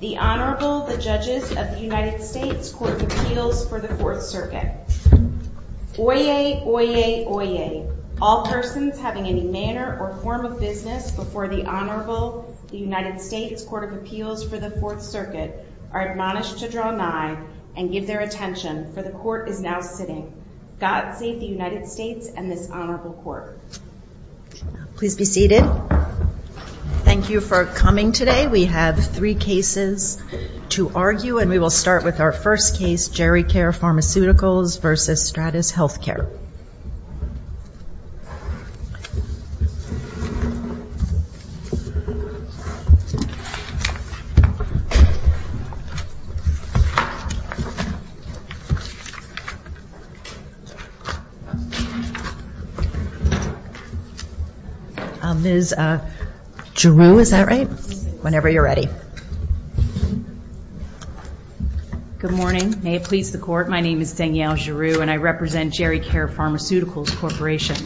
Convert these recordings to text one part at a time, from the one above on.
The Honorable, the Judges of the United States Court of Appeals for the Fourth Circuit. Oyez, oyez, oyez. All persons having any manner or form of business before the Honorable, the United States Court of Appeals for the Fourth Circuit, are admonished to draw nigh and give their attention, for the Court is now sitting. God save the United States and this Honorable Court. Please be seated. Thank you for coming today. We have three cases to argue and we will start with our first case, Geri-Care Pharmaceuticals v. Stradis Healthcare. Ms. Giroux, is that right? Whenever you're ready. Good morning. May it please the Court, my name is Danielle Giroux and I represent Geri-Care Pharmaceuticals Corporation.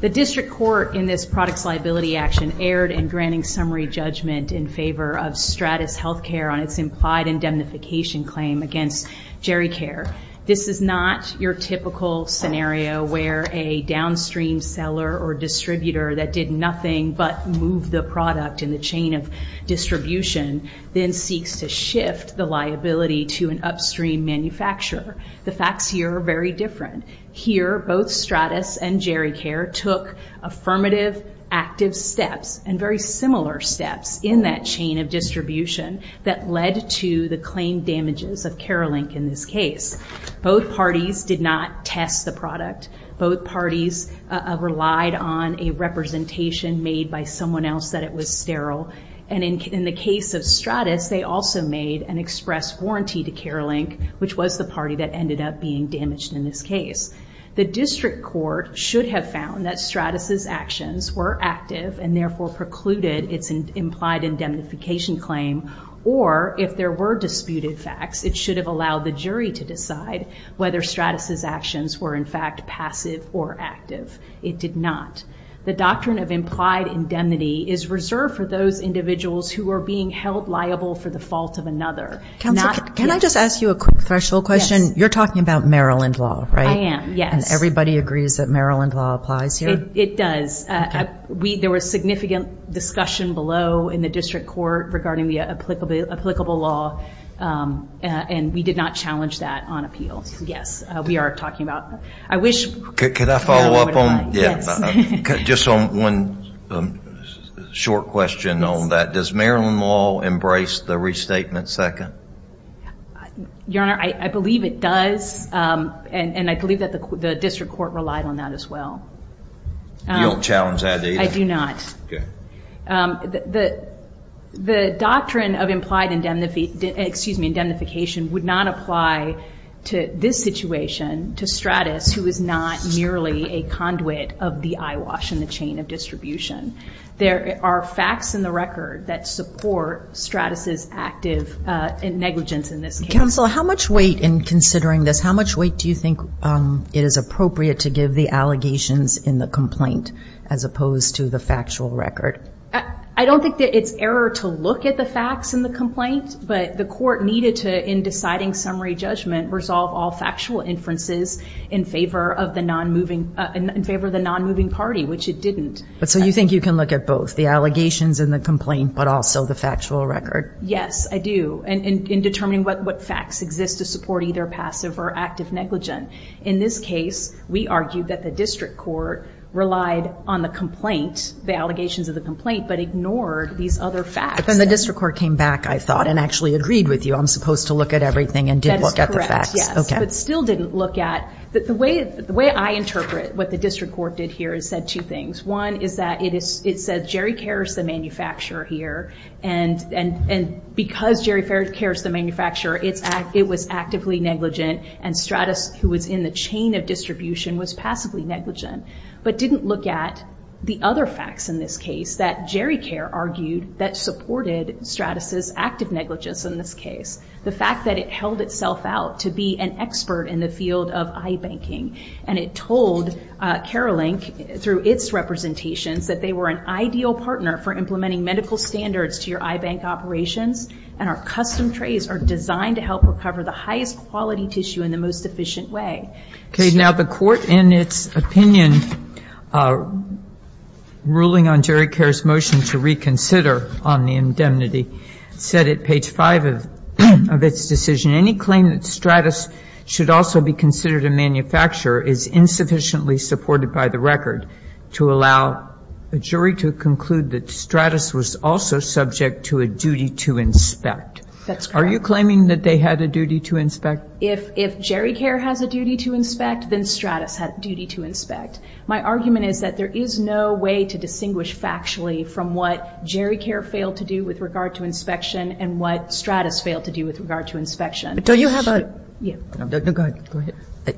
The District Court in this products liability action erred in granting summary judgment in favor of Stradis Healthcare on its implied indemnification claim against Geri-Care. This is not your typical scenario where a downstream seller or distributor that did nothing but move the product in the chain of distribution, then seeks to shift the liability to an upstream manufacturer. The facts here are very different. Here, both Stradis and Geri-Care took affirmative active steps and very similar steps in that chain of distribution that led to the claim damages of Carolink in this case. Both parties did not test the product. Both parties relied on a representation made by someone else that it was sterile. And in the case of Stradis, they also made an express warranty to Carolink, which was the party that ended up being damaged in this case. The District Court should have found that Stradis' actions were active and therefore precluded its implied indemnification claim or if there were disputed facts, it should have allowed the jury to decide whether Stradis' actions were in fact passive or active. It did not. The doctrine of implied indemnity is reserved for those individuals who are being held liable for the fault of another. Counsel, can I just ask you a quick threshold question? You're talking about Maryland law, right? I am, yes. And everybody agrees that Maryland law applies here? It does. There was significant discussion below in the District Court regarding the applicable law, and we did not challenge that on appeal. Yes, we are talking about that. Could I follow up on just one short question on that? Does Maryland law embrace the restatement second? Your Honor, I believe it does, and I believe that the District Court relied on that as well. You don't challenge that either? I do not. The doctrine of implied indemnification would not apply to this situation, to Stradis, who is not merely a conduit of the eyewash in the chain of distribution. There are facts in the record that support Stradis' active negligence in this case. Counsel, how much weight in considering this, how much weight do you think it is appropriate to give the allegations in the complaint as opposed to the factual record? I don't think that it's error to look at the facts in the complaint, but the court needed to, in deciding summary judgment, resolve all factual inferences in favor of the non-moving party, which it didn't. So you think you can look at both, the allegations and the complaint, but also the factual record? Yes, I do, in determining what facts exist to support either passive or active negligence. In this case, we argue that the District Court relied on the complaint, the allegations of the complaint, but ignored these other facts. But then the District Court came back, I thought, and actually agreed with you, I'm supposed to look at everything and did look at the facts. That is correct, yes, but still didn't look at, the way I interpret what the District Court did here is said two things. One is that it says Jerry Care is the manufacturer here, and because Jerry Care is the manufacturer, it was actively negligent, and Stratus, who was in the chain of distribution, was passively negligent. But didn't look at the other facts in this case, that Jerry Care argued that supported Stratus' active negligence in this case. The fact that it held itself out to be an expert in the field of iBanking. And it told CareLink, through its representations, that they were an ideal partner for implementing medical standards to your iBank operations, and our custom trays are designed to help recover the highest quality tissue in the most efficient way. Now, the Court, in its opinion, ruling on Jerry Care's motion to reconsider on the indemnity, said at page 5 of its decision, any claim that Stratus should also be considered a manufacturer is insufficiently supported by the record to allow a jury to conclude that Stratus was also subject to a duty to inspect. That's correct. Are you claiming that they had a duty to inspect? If Jerry Care has a duty to inspect, then Stratus had a duty to inspect. My argument is that there is no way to distinguish factually from what Jerry Care failed to do with regard to inspection, and what Stratus failed to do with regard to inspection. But don't you have a... No, go ahead.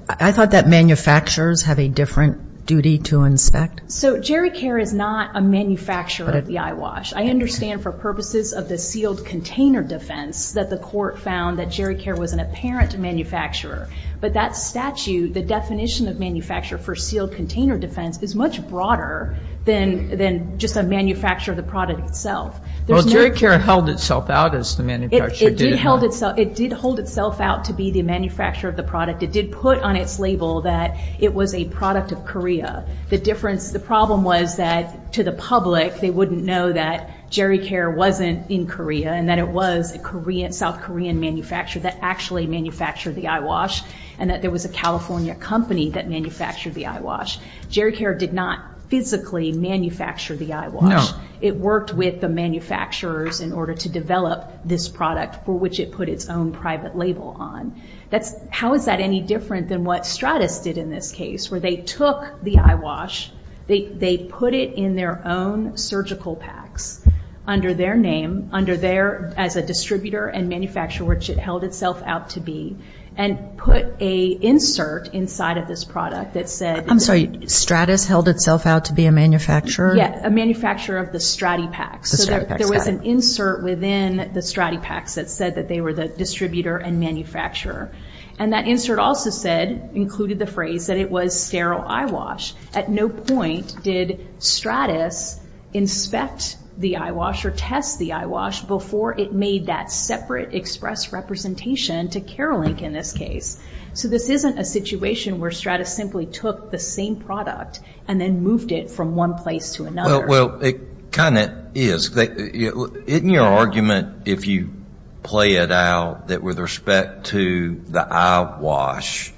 I thought that manufacturers have a different duty to inspect. So Jerry Care is not a manufacturer of the eyewash. I understand for purposes of the sealed container defense that the Court found that Jerry Care was an apparent manufacturer. But that statute, the definition of manufacturer for sealed container defense, is much broader than just a manufacturer of the product itself. Well, Jerry Care held itself out as the manufacturer. It did hold itself out to be the manufacturer of the product. It did put on its label that it was a product of Korea. The problem was that to the public, they wouldn't know that Jerry Care wasn't in Korea and that it was a South Korean manufacturer that actually manufactured the eyewash, and that there was a California company that manufactured the eyewash. Jerry Care did not physically manufacture the eyewash. No. It worked with the manufacturers in order to develop this product for which it put its own private label on. How is that any different than what Stratis did in this case where they took the eyewash, they put it in their own surgical packs under their name, under their as a distributor and manufacturer which it held itself out to be, and put an insert inside of this product that said... I'm sorry. Stratis held itself out to be a manufacturer? Yes. A manufacturer of the Stratipaks. The Stratipaks. That said that they were the distributor and manufacturer. And that insert also said, included the phrase, that it was sterile eyewash. At no point did Stratis inspect the eyewash or test the eyewash before it made that separate express representation to CareLink in this case. So this isn't a situation where Stratis simply took the same product and then moved it from one place to another. Well, it kind of is. Isn't your argument, if you play it out, that with respect to the eyewash,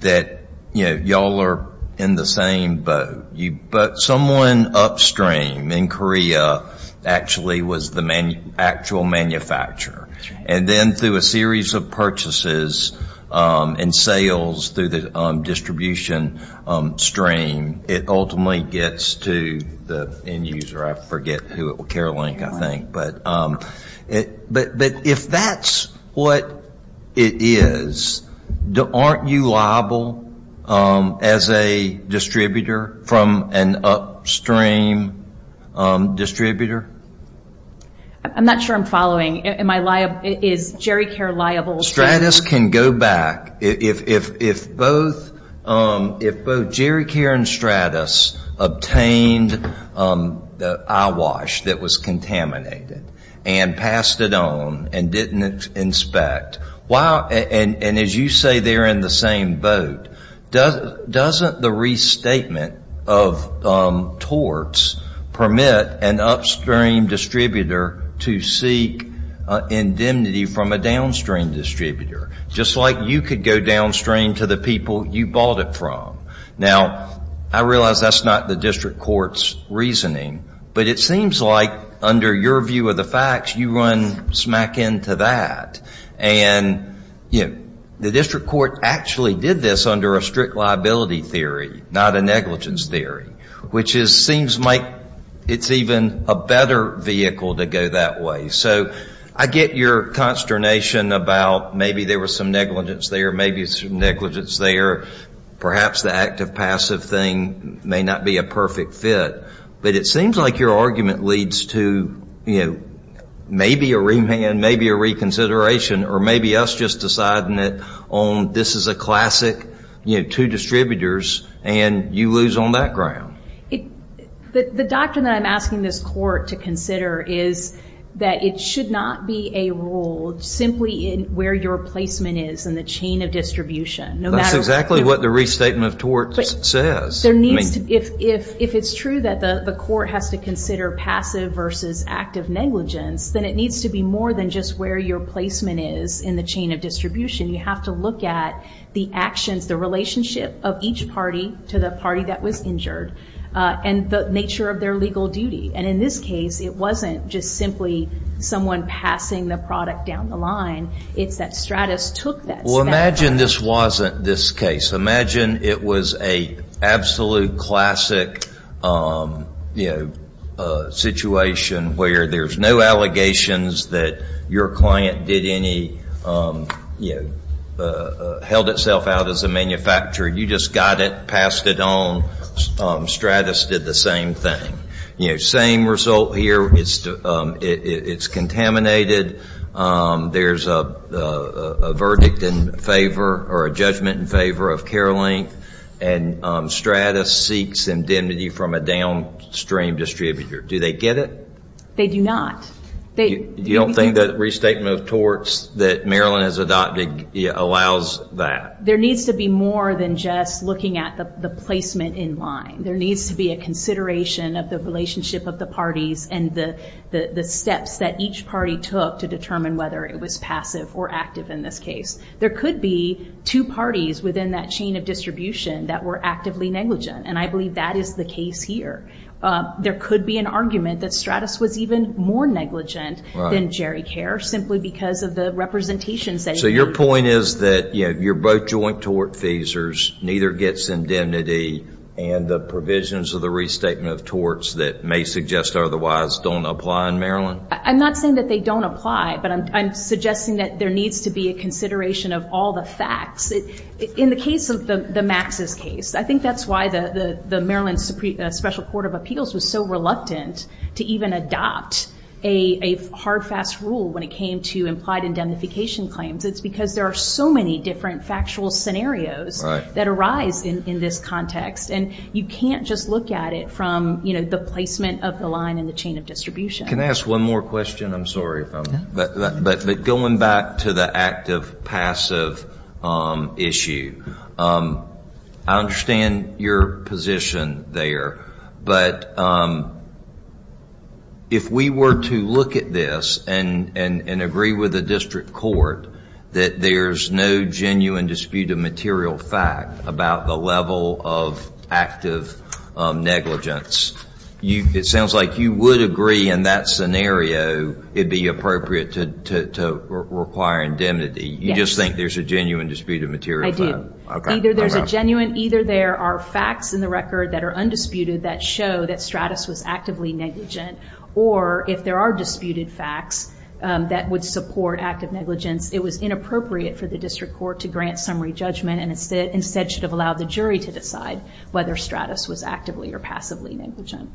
that, you know, y'all are in the same boat. But someone upstream in Korea actually was the actual manufacturer. And then through a series of purchases and sales through the distribution stream, it ultimately gets to the end user. I forget who at CareLink, I think. But if that's what it is, aren't you liable as a distributor from an upstream distributor? I'm not sure I'm following. Am I liable? Is GeriCare liable? Stratis can go back. If both GeriCare and Stratis obtained the eyewash that was contaminated and passed it on and didn't inspect, and as you say they're in the same boat, doesn't the restatement of torts permit an upstream distributor to seek indemnity from a downstream distributor? Just like you could go downstream to the people you bought it from. Now, I realize that's not the district court's reasoning, but it seems like under your view of the facts, you run smack into that. And, you know, the district court actually did this under a strict liability theory, not a negligence theory, which seems like it's even a better vehicle to go that way. So I get your consternation about maybe there was some negligence there, maybe some negligence there. Perhaps the active-passive thing may not be a perfect fit. But it seems like your argument leads to, you know, maybe a remand, maybe a reconsideration, or maybe us just deciding it on this is a classic, you know, two distributors, and you lose on that ground. The doctrine that I'm asking this court to consider is that it should not be a rule simply in where your placement is in the chain of distribution. That's exactly what the restatement of torts says. If it's true that the court has to consider passive versus active negligence, then it needs to be more than just where your placement is in the chain of distribution. You have to look at the actions, the relationship of each party to the party that was injured, and the nature of their legal duty. And in this case, it wasn't just simply someone passing the product down the line. It's that Stratus took that status. Well, imagine this wasn't this case. Imagine it was a absolute classic, you know, situation where there's no allegations that your client did any, you know, held itself out as a manufacturer. You just got it, passed it on. Stratus did the same thing. You know, same result here. It's contaminated. There's a verdict in favor or a judgment in favor of care length, and Stratus seeks indemnity from a downstream distributor. Do they get it? They do not. You don't think that restatement of torts that Maryland has adopted allows that? There needs to be more than just looking at the placement in line. There needs to be a consideration of the relationship of the parties and the steps that each party took to determine whether it was passive or active in this case. There could be two parties within that chain of distribution that were actively negligent, and I believe that is the case here. There could be an argument that Stratus was even more negligent than Jerry Care simply because of the representations that he made. So your point is that, you know, you're both joint tort feasors, neither gets indemnity, and the provisions of the restatement of torts that may suggest otherwise don't apply in Maryland? I'm not saying that they don't apply, but I'm suggesting that there needs to be a consideration of all the facts. In the case of the Max's case, I think that's why the Maryland Special Court of Appeals was so reluctant to even adopt a hard, fast rule when it came to implied indemnification claims. It's because there are so many different factual scenarios that arise in this context, and you can't just look at it from the placement of the line in the chain of distribution. Can I ask one more question? I'm sorry. But going back to the active-passive issue, I understand your position there, but if we were to look at this and agree with the district court that there's no genuine dispute of material fact about the level of active negligence, it sounds like you would agree in that scenario it would be appropriate to require indemnity. You just think there's a genuine dispute of material fact? Either there's a genuine, either there are facts in the record that are undisputed that show that Stratis was actively negligent, or if there are disputed facts that would support active negligence, it was inappropriate for the district court to grant summary judgment and instead should have allowed the jury to decide whether Stratis was actively or passively negligent.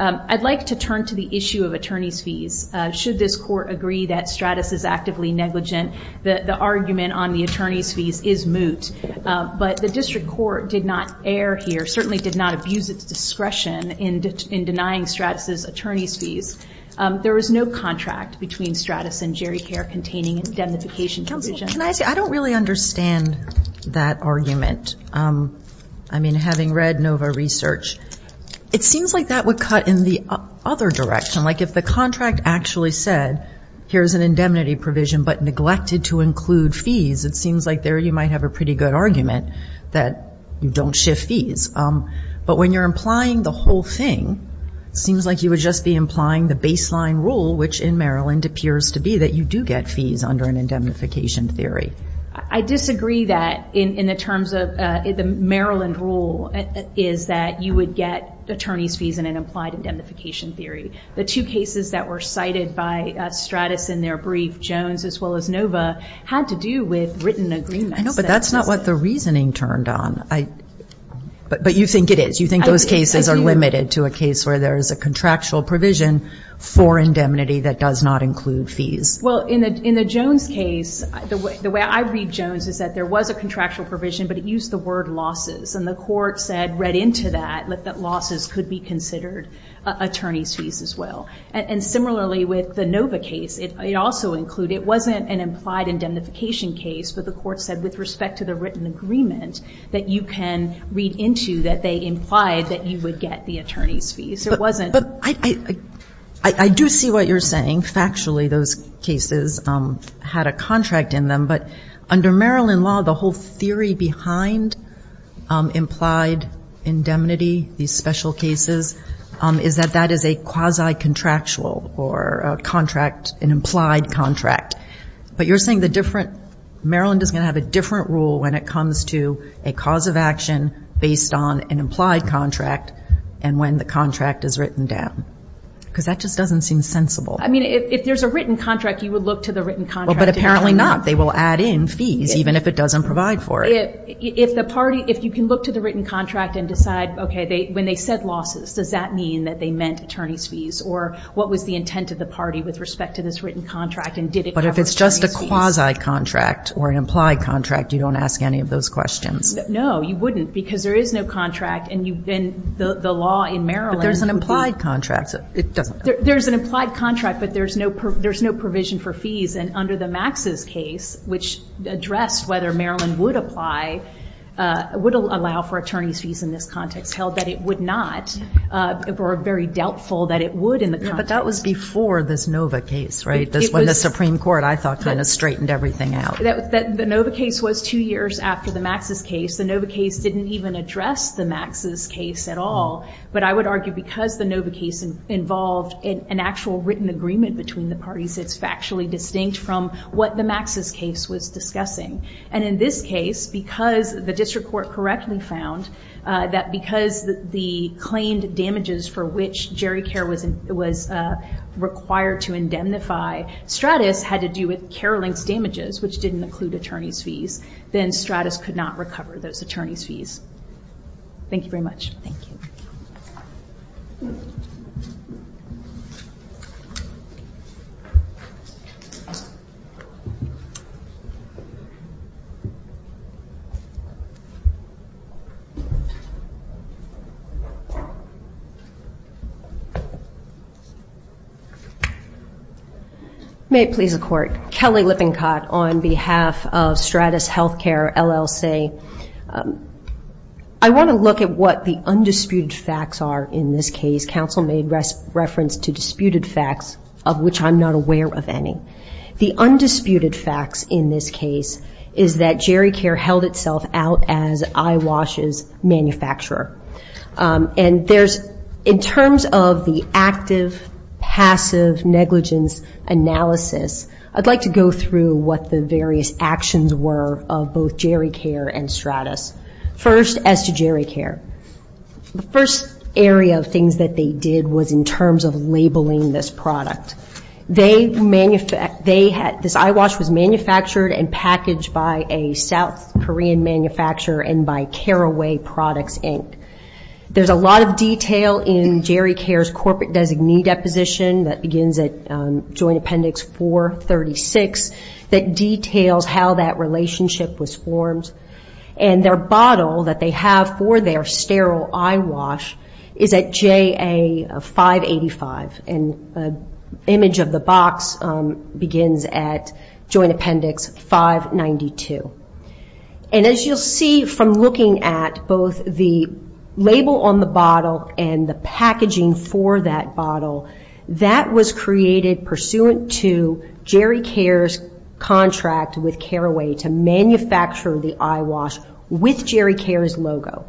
I'd like to turn to the issue of attorney's fees. Should this court agree that Stratis is actively negligent, the argument on the attorney's fees is moot, but the district court did not err here, certainly did not abuse its discretion in denying Stratis' attorney's fees. There was no contract between Stratis and Jerry Care containing indemnification provision. Counsel, can I say I don't really understand that argument. I mean, having read NOVA research, it seems like that would cut in the other direction. Like if the contract actually said, here's an indemnity provision but neglected to include fees, it seems like there you might have a pretty good argument that you don't shift fees. But when you're implying the whole thing, it seems like you would just be implying the baseline rule, which in Maryland appears to be that you do get fees under an indemnification theory. I disagree that in the terms of the Maryland rule, is that you would get attorney's fees in an implied indemnification theory. The two cases that were cited by Stratis in their brief, Jones as well as NOVA, had to do with written agreements. I know, but that's not what the reasoning turned on. But you think it is. You think those cases are limited to a case where there is a contractual provision for indemnity that does not include fees. Well, in the Jones case, the way I read Jones is that there was a contractual provision, but it used the word losses. And the court said, read into that, that losses could be considered attorney's fees as well. And similarly with the NOVA case, it also included, it wasn't an implied indemnification case, but the court said with respect to the written agreement that you can read into that they implied that you would get the attorney's fees. But I do see what you're saying. Factually, those cases had a contract in them. But under Maryland law, the whole theory behind implied indemnity, these special cases, is that that is a quasi-contractual or an implied contract. But you're saying Maryland is going to have a different rule when it comes to a cause of action based on an Because that just doesn't seem sensible. I mean, if there's a written contract, you would look to the written contract. But apparently not. They will add in fees, even if it doesn't provide for it. If the party, if you can look to the written contract and decide, okay, when they said losses, does that mean that they meant attorney's fees, or what was the intent of the party with respect to this written contract, and did it cover attorney's fees? But if it's just a quasi-contract or an implied contract, you don't ask any of those questions. No, you wouldn't, because there is no contract. And the law in Maryland. But there's an implied contract. There's an implied contract, but there's no provision for fees. And under the Max's case, which addressed whether Maryland would apply, would allow for attorney's fees in this context, held that it would not, or very doubtful that it would in the context. But that was before this Nova case, right? That's when the Supreme Court, I thought, kind of straightened everything out. The Nova case was two years after the Max's case. The Nova case didn't even address the Max's case at all. But I would argue because the Nova case involved an actual written agreement between the parties, it's factually distinct from what the Max's case was discussing. And in this case, because the district court correctly found that because the claimed damages for which Jerry Care was required to indemnify, Stratis had to do with Care Link's damages, which didn't include attorney's fees, then Stratis could not recover those attorney's fees. Thank you very much. Thank you. May it please the Court. Kelly Lippincott on behalf of Stratis Healthcare, LLC. I want to look at what the undisputed facts are in this case. Counsel made reference to disputed facts, of which I'm not aware of any. The undisputed facts in this case is that Jerry Care held itself out as Eyewash's manufacturer. And there's, in terms of the active, passive negligence analysis, I'd like to go through what the various actions were of both Jerry Care and Stratis. First, as to Jerry Care. The first area of things that they did was in terms of labeling this product. This eyewash was manufactured and packaged by a South Korean manufacturer and by Carraway Products, Inc. There's a lot of detail in Jerry Care's corporate designee deposition that begins at Joint Appendix 436 that details how that relationship was formed. And their bottle that they have for their sterile eyewash is at JA 585. And the image of the box begins at Joint Appendix 592. And as you'll see from looking at both the label on the bottle and the packaging for that bottle, that was created pursuant to Jerry Care's contract with Carraway to manufacture the eyewash with Jerry Care's logo.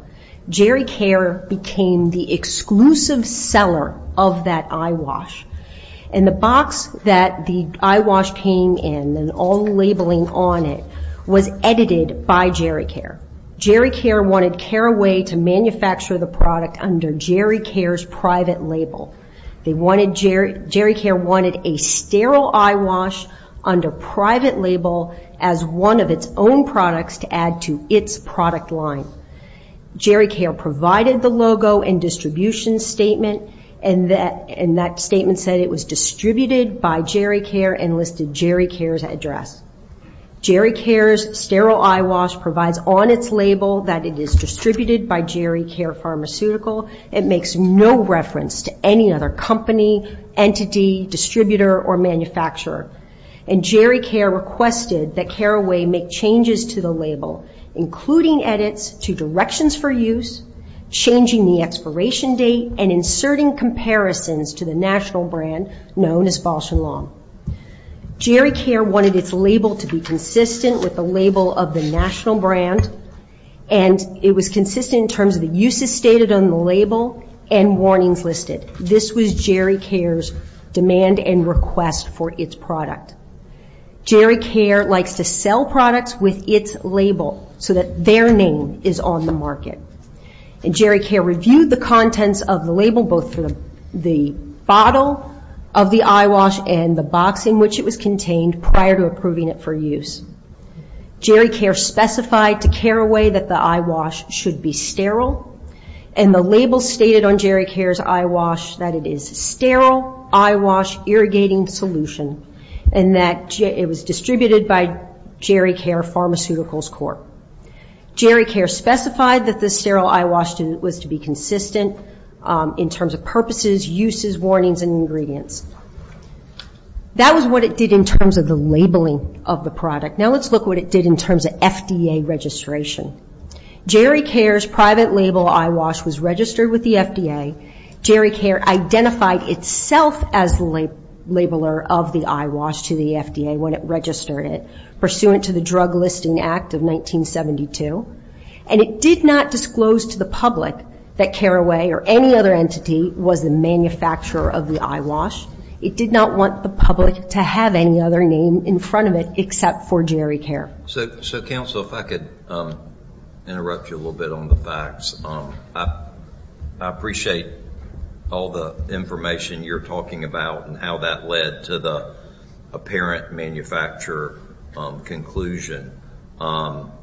Jerry Care became the exclusive seller of that eyewash. And the box that the eyewash came in and all the labeling on it was edited by Jerry Care. Jerry Care wanted Carraway to manufacture the product under Jerry Care's private label. Jerry Care wanted a sterile eyewash under private label as one of its own products to add to its product line. Jerry Care provided the logo and distribution statement. And that statement said it was distributed by Jerry Care and listed Jerry Care's address. Jerry Care's sterile eyewash provides on its label that it is distributed by Jerry Care Pharmaceutical. It makes no reference to any other company, entity, distributor, or manufacturer. And Jerry Care requested that Carraway make changes to the label, including edits to directions for use, changing the expiration date, and inserting comparisons to the national brand known as Balsham Long. Jerry Care wanted its label to be consistent with the label of the national brand. And it was consistent in terms of the uses stated on the label and warnings listed. This was Jerry Care's demand and request for its product. Jerry Care likes to sell products with its label so that their name is on the market. And Jerry Care reviewed the contents of the label both for the bottle of the eyewash and the box in which it was contained prior to approving it for use. Jerry Care specified to Carraway that the eyewash should be sterile. And the label stated on Jerry Care's eyewash that it is sterile eyewash irrigating solution. And that it was distributed by Jerry Care Pharmaceuticals Corp. Jerry Care specified that the sterile eyewash was to be consistent in terms of purposes, uses, warnings, and ingredients. That was what it did in terms of the labeling of the product. Now let's look at what it did in terms of FDA registration. Jerry Care's private label eyewash was registered with the FDA. Jerry Care identified itself as the labeler of the eyewash to the FDA when it registered it, pursuant to the Drug Listing Act of 1972. And it did not disclose to the public that Carraway or any other entity was the manufacturer of the eyewash. It did not want the public to have any other name in front of it except for Jerry Care. So, Counsel, if I could interrupt you a little bit on the facts. I appreciate all the information you're talking about and how that led to the apparent manufacturer conclusion. I'm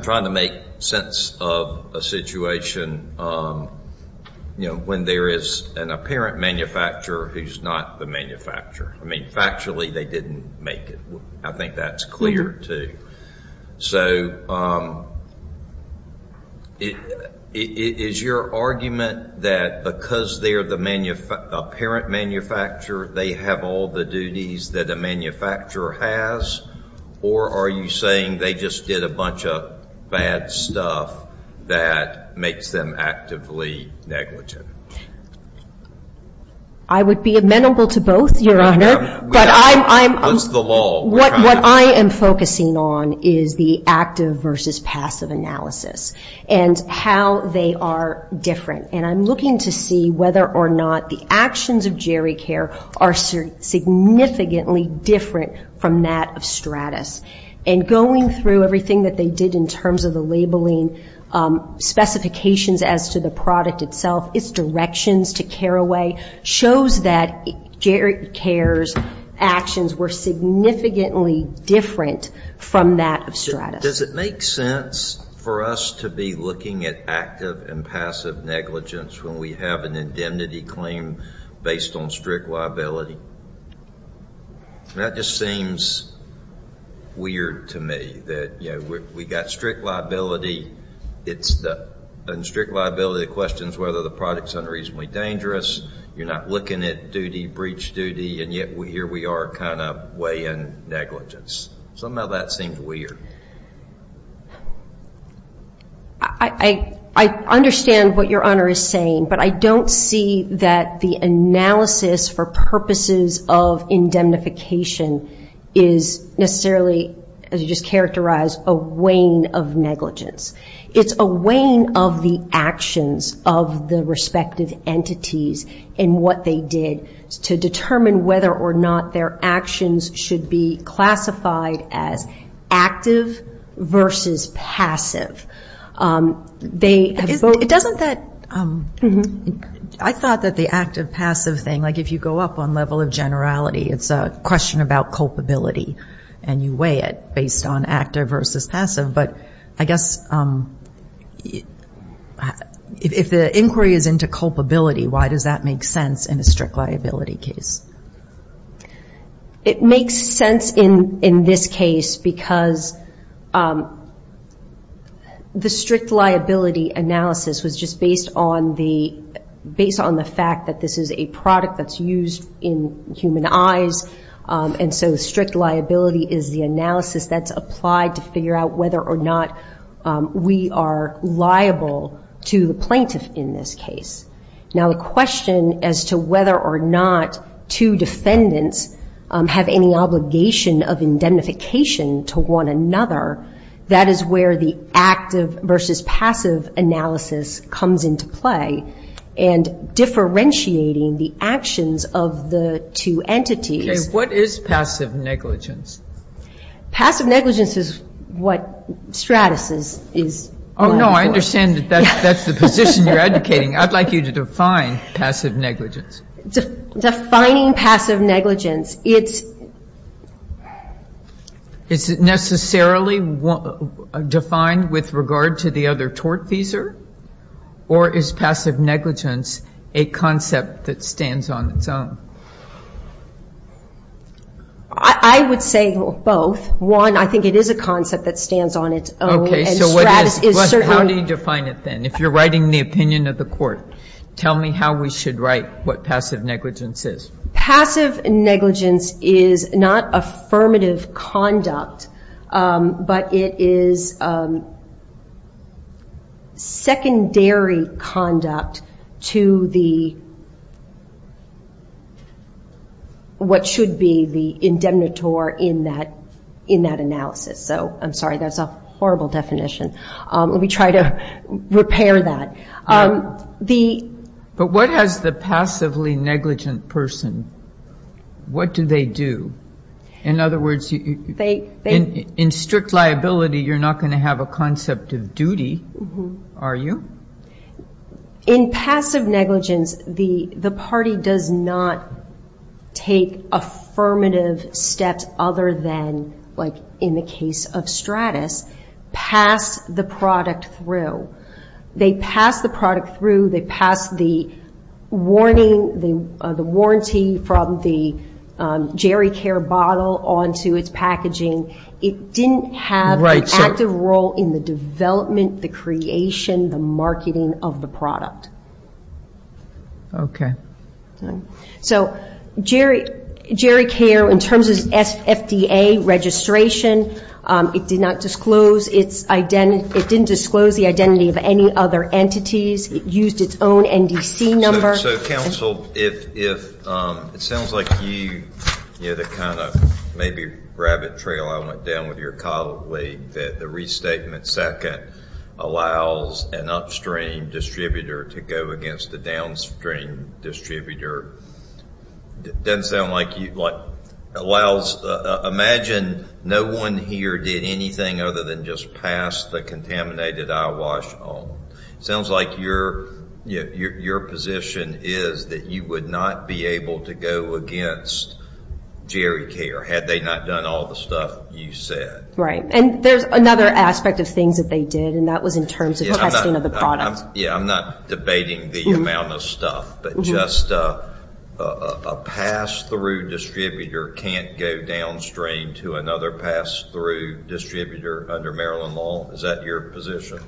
trying to make sense of a situation, you know, when there is an apparent manufacturer who's not the manufacturer. I mean, factually, they didn't make it. I think that's clear, too. So, is your argument that because they're the apparent manufacturer, they have all the duties that a manufacturer has? Or are you saying they just did a bunch of bad stuff that makes them actively negligent? I would be amenable to both, Your Honor. What's the lull? What I am focusing on is the active versus passive analysis and how they are different. And I'm looking to see whether or not the actions of Jerry Care are significantly different from that of Stratus. And going through everything that they did in terms of the labeling specifications as to the product itself, its directions to care away, shows that Jerry Care's actions were significantly different from that of Stratus. Does it make sense for us to be looking at active and passive negligence when we have an indemnity claim based on strict liability? That just seems weird to me, that, you know, we've got strict liability. And strict liability questions whether the product's unreasonably dangerous. You're not looking at duty, breach duty, and yet here we are kind of weighing negligence. Somehow that seems weird. I understand what Your Honor is saying, but I don't see that the analysis for purposes of indemnification is necessarily, as you just characterized, a weighing of negligence. It's a weighing of the actions of the respective entities in what they did to determine whether or not their actions should be classified as active versus passive. I thought that the active-passive thing, like if you go up on level of generality, it's a question about culpability, and you weigh it based on active versus passive. But I guess if the inquiry is into culpability, why does that make sense in a strict liability case? It makes sense in this case because the strict liability analysis was just based on the fact that this is a product that's used in human eyes, and so strict liability is the analysis that's applied to figure out whether or not we are liable to the plaintiff in this case. Now the question as to whether or not two defendants have any obligation of indemnification to one another, that is where the active versus passive analysis comes into play. And differentiating the actions of the two entities... Okay, what is passive negligence? Passive negligence is what Stratis is going for. Oh, no, I understand that that's the position you're advocating. I'd like you to define passive negligence. Defining passive negligence, it's... Is it necessarily defined with regard to the other tort visa, or is passive negligence a concept that stands on its own? I would say both. One, I think it is a concept that stands on its own, and Stratis is certainly... Okay, so how do you define it then? If you're writing the opinion of the court, tell me how we should write what passive negligence is. Passive negligence is not affirmative conduct, but it is secondary conduct to what should be the indemnitor in that analysis. So, I'm sorry, that's a horrible definition. Let me try to repair that. But what has the passively negligent person, what do they do? In other words, in strict liability, you're not going to have a concept of duty, are you? In passive negligence, the party does not take affirmative steps other than, like in the case of Stratis, pass the product through. They pass the product through. They pass the warranty from the GeriCare bottle onto its packaging. It didn't have an active role in the development, the creation, the marketing of the product. Okay. So, GeriCare, in terms of its FDA registration, it did not disclose its identity. It didn't disclose the identity of any other entities. It used its own NDC number. So, counsel, it sounds like you, you know, the kind of maybe rabbit trail I went down with your colleague, that the restatement second allows an upstream distributor to go against the downstream distributor. It doesn't sound like you, like, allows, imagine no one here did anything other than just pass the contaminated eyewash on. It sounds like your position is that you would not be able to go against GeriCare had they not done all the stuff you said. Right. And there's another aspect of things that they did, and that was in terms of testing of the product. Yeah, I'm not debating the amount of stuff, but just a pass-through distributor can't go downstream to another pass-through distributor under Maryland law. Is that your position?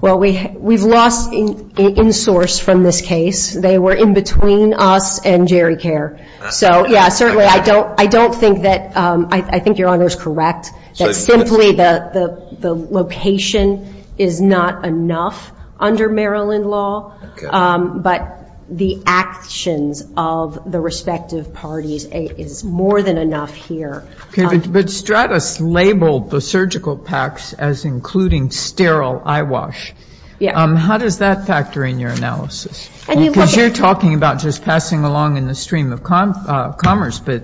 Well, we've lost an in-source from this case. They were in between us and GeriCare. So, yeah, certainly I don't think that, I think your Honor is correct, that simply the location is not enough under Maryland law. Okay. But the actions of the respective parties is more than enough here. Okay. But Stratus labeled the surgical packs as including sterile eyewash. Yeah. How does that factor in your analysis? Because you're talking about just passing along in the stream of commerce, but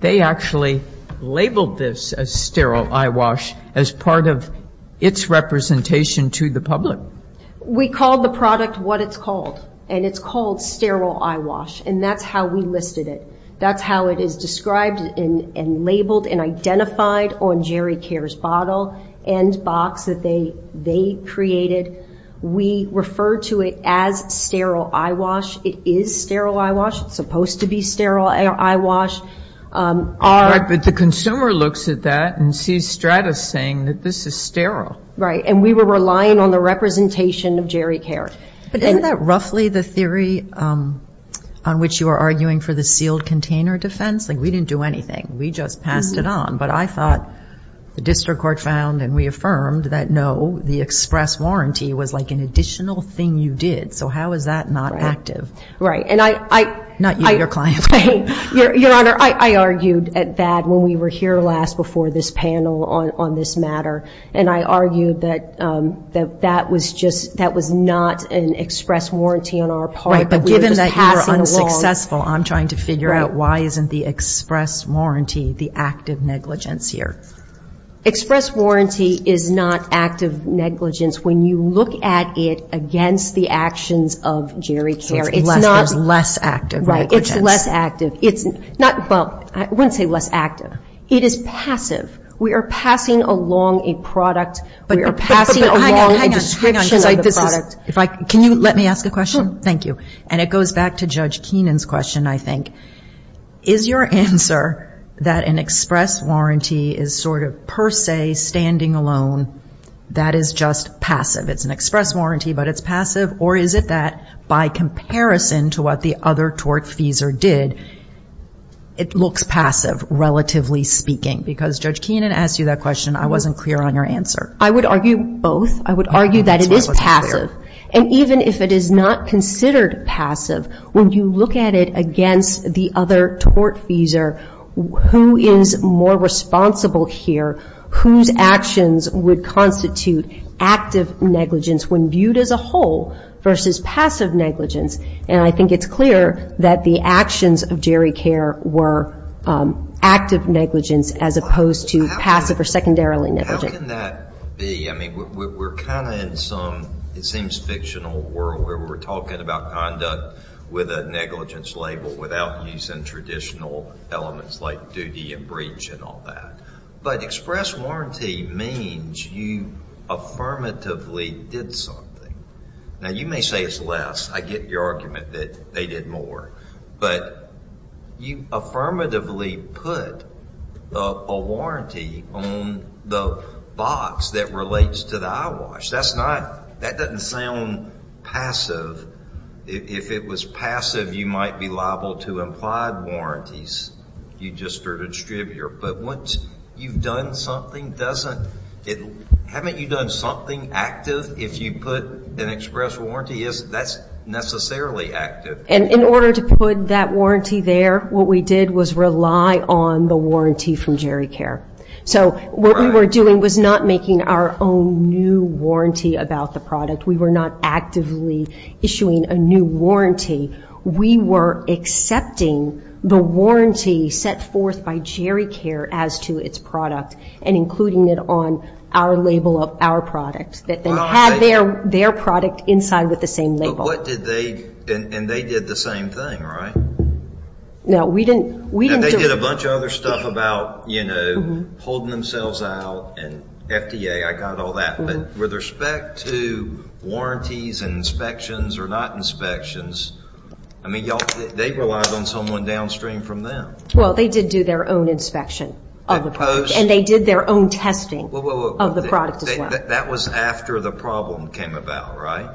they actually labeled this as sterile eyewash as part of its representation to the public. We called the product what it's called, and it's called sterile eyewash, and that's how we listed it. That's how it is described and labeled and identified on GeriCare's bottle and box that they created. We refer to it as sterile eyewash. It is sterile eyewash. It's supposed to be sterile eyewash. But the consumer looks at that and sees Stratus saying that this is sterile. Right. And we were relying on the representation of GeriCare. But isn't that roughly the theory on which you are arguing for the sealed container defense? Like, we didn't do anything. We just passed it on. But I thought the district court found and we affirmed that, no, the express warranty was like an additional thing you did. So how is that not active? Right. Not you, your client. Your Honor, I argued that when we were here last before this panel on this matter, and I argued that that was just, that was not an express warranty on our part. Right. But given that you were unsuccessful, I'm trying to figure out why isn't the express warranty the active negligence here. Express warranty is not active negligence. When you look at it against the actions of GeriCare, it's not. Less active negligence. Right. It's less active. It's not, well, I wouldn't say less active. It is passive. We are passing along a product. We are passing along a description of the product. Can you let me ask a question? Thank you. And it goes back to Judge Keenan's question, I think. Is your answer that an express warranty is sort of per se standing alone, that is just passive? It's an express warranty, but it's passive? Or is it that by comparison to what the other tortfeasor did, it looks passive, relatively speaking? Because Judge Keenan asked you that question. I wasn't clear on your answer. I would argue both. I would argue that it is passive. And even if it is not considered passive, when you look at it against the other tortfeasor, who is more responsible here? Whose actions would constitute active negligence when viewed as a whole versus passive negligence? And I think it's clear that the actions of GeriCare were active negligence as opposed to passive or secondarily negligent. How can that be? I mean, we're kind of in some, it seems, fictional world where we're talking about conduct with a negligence label without using traditional elements like duty and breach and all that. But express warranty means you affirmatively did something. Now, you may say it's less. I get your argument that they did more. But you affirmatively put a warranty on the box that relates to the eyewash. That's not, that doesn't sound passive. If it was passive, you might be liable to implied warranties. You just start a distributor. But once you've done something, doesn't, haven't you done something active if you put an express warranty? That's necessarily active. And in order to put that warranty there, what we did was rely on the warranty from GeriCare. So what we were doing was not making our own new warranty about the product. We were not actively issuing a new warranty. We were accepting the warranty set forth by GeriCare as to its product and including it on our label of our product that then had their product inside with the same label. But what did they, and they did the same thing, right? No, we didn't. And they did a bunch of other stuff about, you know, holding themselves out and FDA. I got all that. But with respect to warranties and inspections or not inspections, I mean, y'all, they relied on someone downstream from them. Well, they did do their own inspection of the product. And they did their own testing of the product as well. That was after the problem came about, right?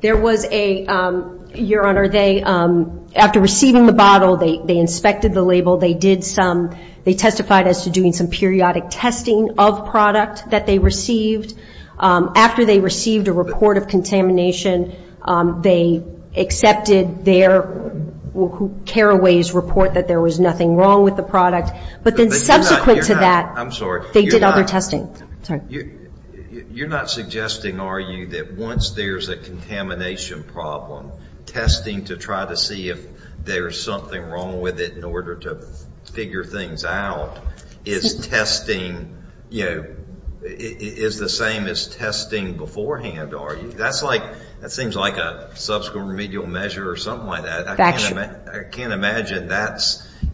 There was a, Your Honor, they, after receiving the bottle, they inspected the label. They did some, they testified as to doing some periodic testing of product that they received. After they received a report of contamination, they accepted their care aways report that there was nothing wrong with the product. But then subsequent to that, they did other testing. You're not suggesting, are you, that once there's a contamination problem, testing to try to see if there's something wrong with it in order to figure things out is testing, you know, is the same as testing beforehand, are you? That's like, that seems like a subsequent remedial measure or something like that. I can't imagine that.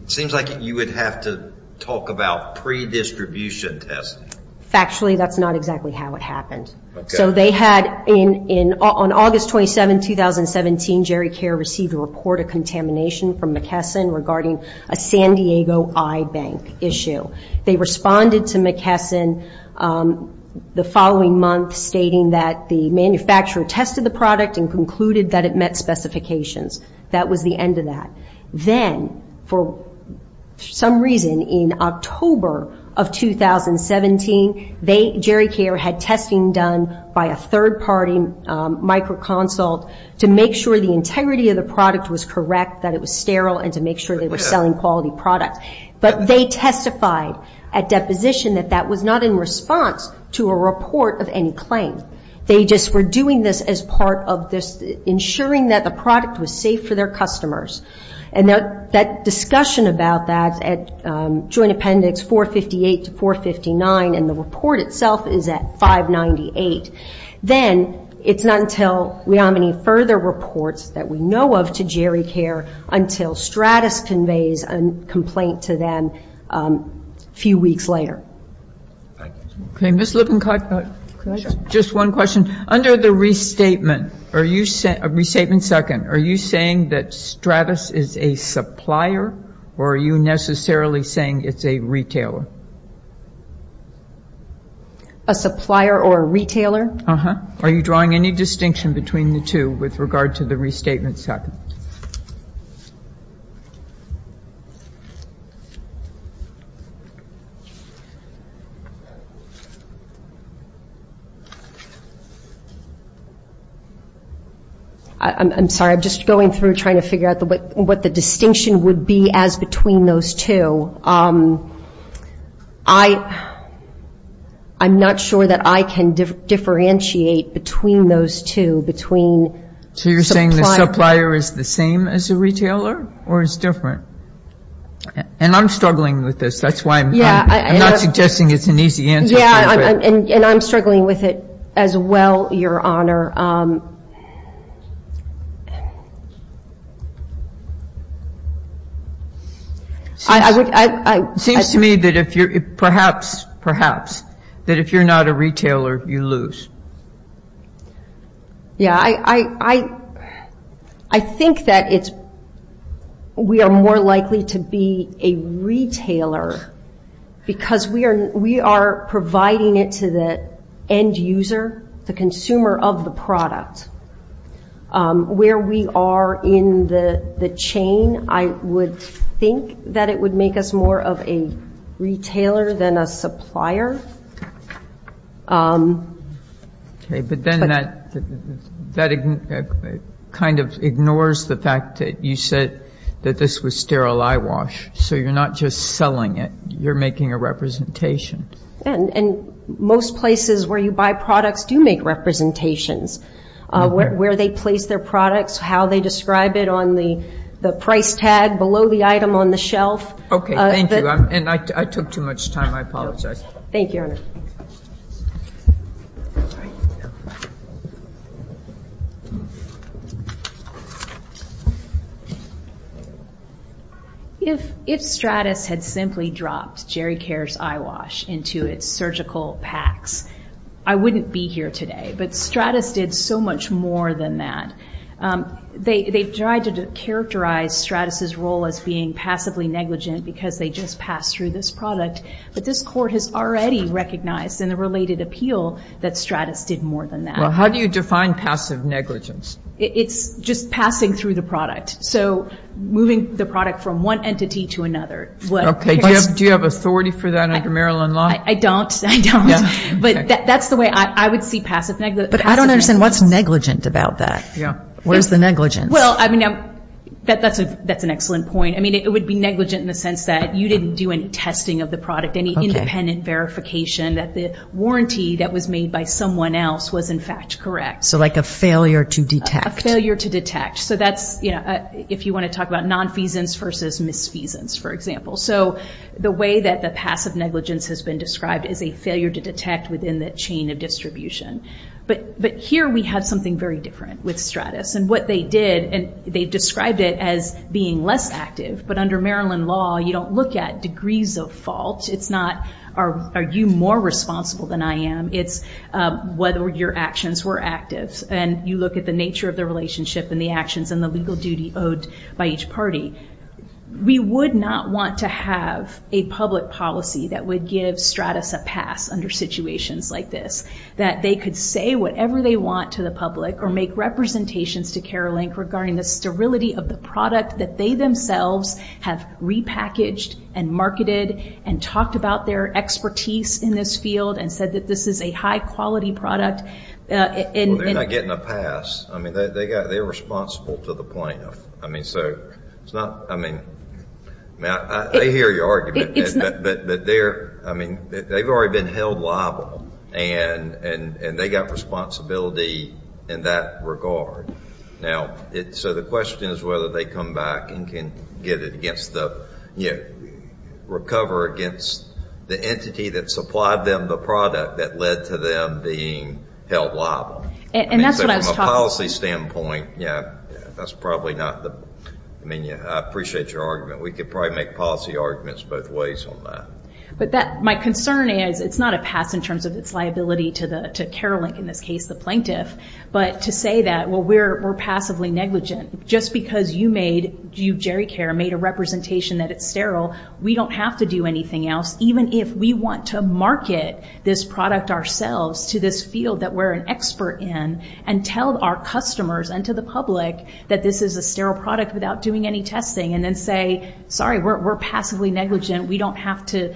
It seems like you would have to talk about pre-distribution testing. Factually, that's not exactly how it happened. Okay. So they had, on August 27, 2017, Jerry Care received a report of contamination from McKesson regarding a San Diego iBank issue. They responded to McKesson the following month stating that the manufacturer tested the product and concluded that it met specifications. That was the end of that. Then, for some reason, in October of 2017, Jerry Care had testing done by a third-party micro consult to make sure the integrity of the product was correct, that it was sterile, and to make sure they were selling quality products. But they testified at deposition that that was not in response to a report of any claim. They just were doing this as part of ensuring that the product was safe for their customers. And that discussion about that at Joint Appendix 458 to 459, and the report itself is at 598, then it's not until we have any further reports that we know of to Jerry Care until Stratus conveys a complaint to them a few weeks later. Okay. Ms. Lippincott, just one question. Under the restatement, are you saying that Stratus is a supplier, or are you necessarily saying it's a retailer? A supplier or a retailer. Are you drawing any distinction between the two with regard to the restatement? I'm sorry. I'm just going through trying to figure out what the distinction would be as between those two. I'm not sure that I can differentiate between those two, between supplier. So you're saying the supplier is the same as the retailer, or it's different? And I'm struggling with this. That's why I'm not suggesting it's an easy answer. Yeah, and I'm struggling with it as well, Your Honor. It seems to me that if you're not a retailer, you lose. Yeah, I think that we are more likely to be a retailer because we are providing it to the end user, the consumer of the product. Where we are in the chain, I would think that it would make us more of a retailer than a supplier. Okay, but then that kind of ignores the fact that you said that this was sterile eyewash, so you're not just selling it, you're making a representation. And most places where you buy products do make representations, where they place their products, how they describe it on the price tag below the item on the shelf. Okay, thank you. And I took too much time. I apologize. Thank you, Your Honor. All right. If Stratus had simply dropped Jerry Cares Eyewash into its surgical packs, I wouldn't be here today. But Stratus did so much more than that. They've tried to characterize Stratus' role as being passively negligent because they just passed through this product. But this Court has already recognized in the related appeal that Stratus did more than that. Well, how do you define passive negligence? It's just passing through the product. So moving the product from one entity to another. Okay, do you have authority for that under Maryland law? I don't. I don't. But that's the way I would see passive negligence. But I don't understand what's negligent about that. Yeah. Where's the negligence? Well, I mean, that's an excellent point. I mean, it would be negligent in the sense that you didn't do any testing of the product, any independent verification that the warranty that was made by someone else was, in fact, correct. So like a failure to detect. A failure to detect. So that's, you know, if you want to talk about nonfeasance versus misfeasance, for example. So the way that the passive negligence has been described is a failure to detect within the chain of distribution. But here we have something very different with Stratus. And what they did, and they described it as being less active. But under Maryland law, you don't look at degrees of fault. It's not are you more responsible than I am. It's whether your actions were active. And you look at the nature of the relationship and the actions and the legal duty owed by each party. We would not want to have a public policy that would give Stratus a pass under situations like this. That they could say whatever they want to the public or make representations to Care Link regarding the sterility of the product that they themselves have repackaged and marketed and talked about their expertise in this field and said that this is a high-quality product. Well, they're not getting a pass. I mean, they're responsible to the point of, I mean, so it's not, I mean, I hear your argument. But they're, I mean, they've already been held liable. And they got responsibility in that regard. Now, so the question is whether they come back and can get it against the, recover against the entity that supplied them the product that led to them being held liable. And that's what I was talking about. From a policy standpoint, yeah, that's probably not the, I mean, I appreciate your argument. We could probably make policy arguments both ways on that. But that, my concern is it's not a pass in terms of its liability to Care Link, in this case the plaintiff. But to say that, well, we're passively negligent. Just because you made, you, Jerry Care, made a representation that it's sterile, we don't have to do anything else. Even if we want to market this product ourselves to this field that we're an expert in and tell our customers and to the public that this is a sterile product without doing any testing and then say, sorry, we're passively negligent. We don't have to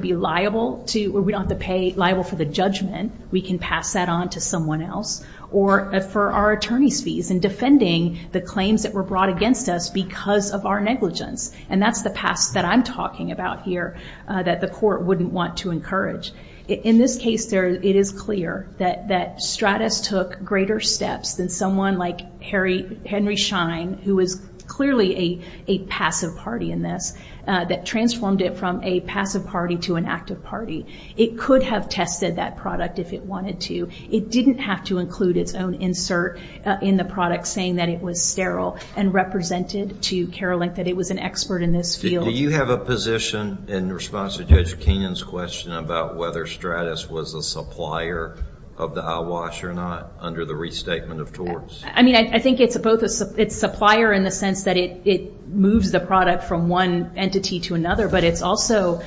be liable to, or we don't have to pay liable for the judgment. We can pass that on to someone else. Or for our attorney's fees and defending the claims that were brought against us because of our negligence. And that's the pass that I'm talking about here that the court wouldn't want to encourage. In this case, it is clear that Stratis took greater steps than someone like Henry Schein, who is clearly a passive party in this, that transformed it from a passive party to an active party. It could have tested that product if it wanted to. It didn't have to include its own insert in the product saying that it was sterile and represented to Care Link that it was an expert in this field. Do you have a position in response to Judge Kenyon's question about whether Stratis was a supplier of the eyewash or not under the restatement of torts? I mean, I think it's both a supplier in the sense that it moves the product from one entity to another, but it's also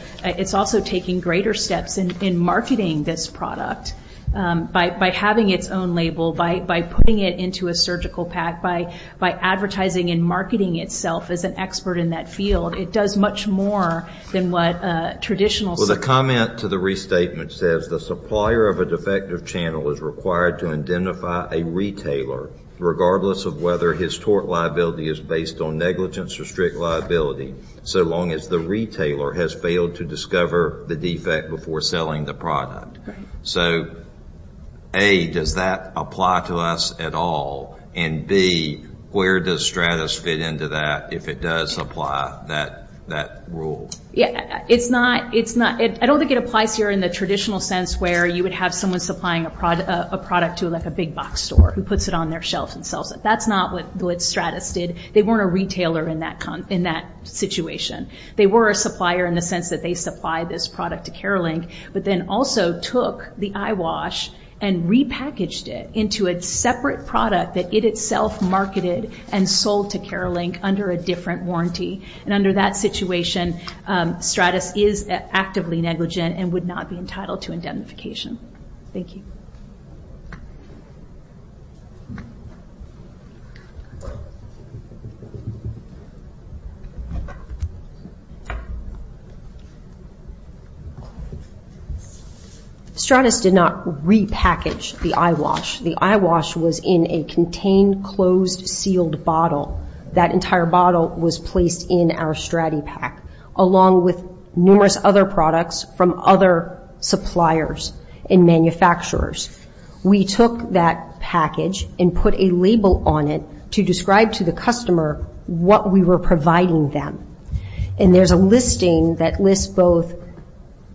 taking greater steps in marketing this product by having its own label, by putting it into a surgical pack, by advertising and marketing itself as an expert in that field. It does much more than what a traditional surgeon would do. Well, the comment to the restatement says, the supplier of a defective channel is required to identify a retailer, regardless of whether his tort liability is based on negligence or strict liability, so long as the retailer has failed to discover the defect before selling the product. So, A, does that apply to us at all? And, B, where does Stratis fit into that if it does apply that rule? Yeah, it's not, I don't think it applies here in the traditional sense where you would have someone supplying a product to like a big box store who puts it on their shelf and sells it. That's not what Stratis did. They weren't a retailer in that situation. They were a supplier in the sense that they supplied this product to Care Link, but then also took the eyewash and repackaged it into a separate product that it itself marketed and sold to Care Link under a different warranty. And under that situation, Stratis is actively negligent and would not be entitled to indemnification. Thank you. Stratis did not repackage the eyewash. The eyewash was in a contained, closed, sealed bottle. That entire bottle was placed in our StratiPak along with numerous other products from other suppliers and manufacturers. We took that package and put a label on it to describe to the customer what we were providing them. And there's a listing that lists both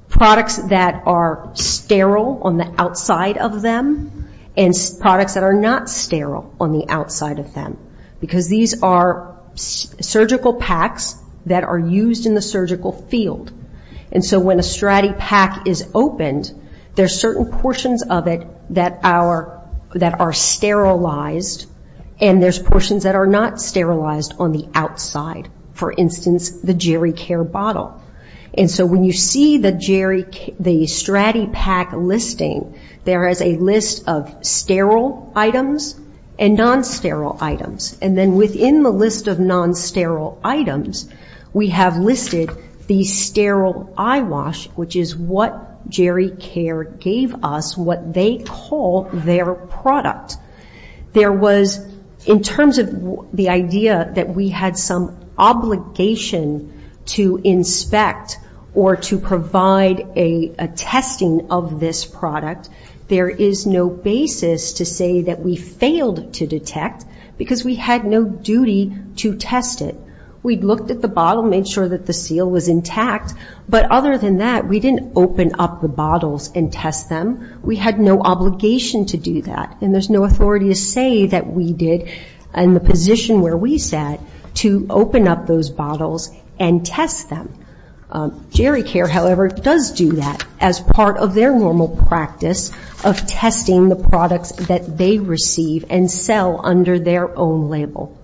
products that are sterile on the outside of them and products that are not sterile on the outside of them because these are surgical packs that are used in the surgical field. And so when a StratiPak is opened, there's certain portions of it that are sterilized and there's portions that are not sterilized on the outside. For instance, the Jerry Care bottle. And so when you see the StratiPak listing, there is a list of sterile items and non-sterile items. And then within the list of non-sterile items, we have listed the sterile eyewash, which is what Jerry Care gave us, what they call their product. There was, in terms of the idea that we had some obligation to inspect or to provide a testing of this product, there is no basis to say that we failed to detect because we had no duty to test it. We'd looked at the bottle, made sure that the seal was intact. But other than that, we didn't open up the bottles and test them. We had no obligation to do that. And there's no authority to say that we did, in the position where we sat, to open up those bottles and test them. Jerry Care, however, does do that as part of their normal practice of testing the products that they receive and sell under their own label.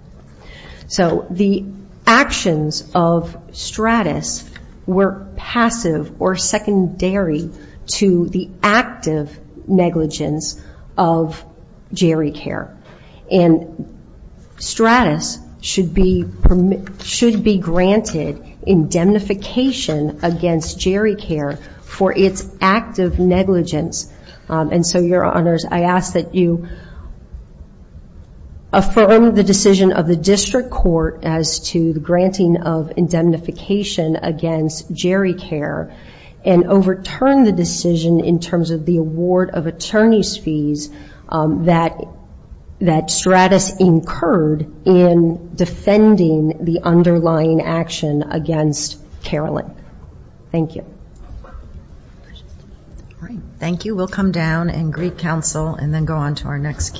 So the actions of Stratis were passive or secondary to the active negligence of Jerry Care. And Stratis should be granted indemnification against Jerry Care for its active negligence. And so, Your Honors, I ask that you affirm the decision of the district court as to the granting of indemnification against Jerry Care and overturn the decision in terms of the award of attorney's fees that Stratis incurred in defending the underlying action against Carolin. Thank you. Thank you. We'll come down and greet counsel and then go on to our next case.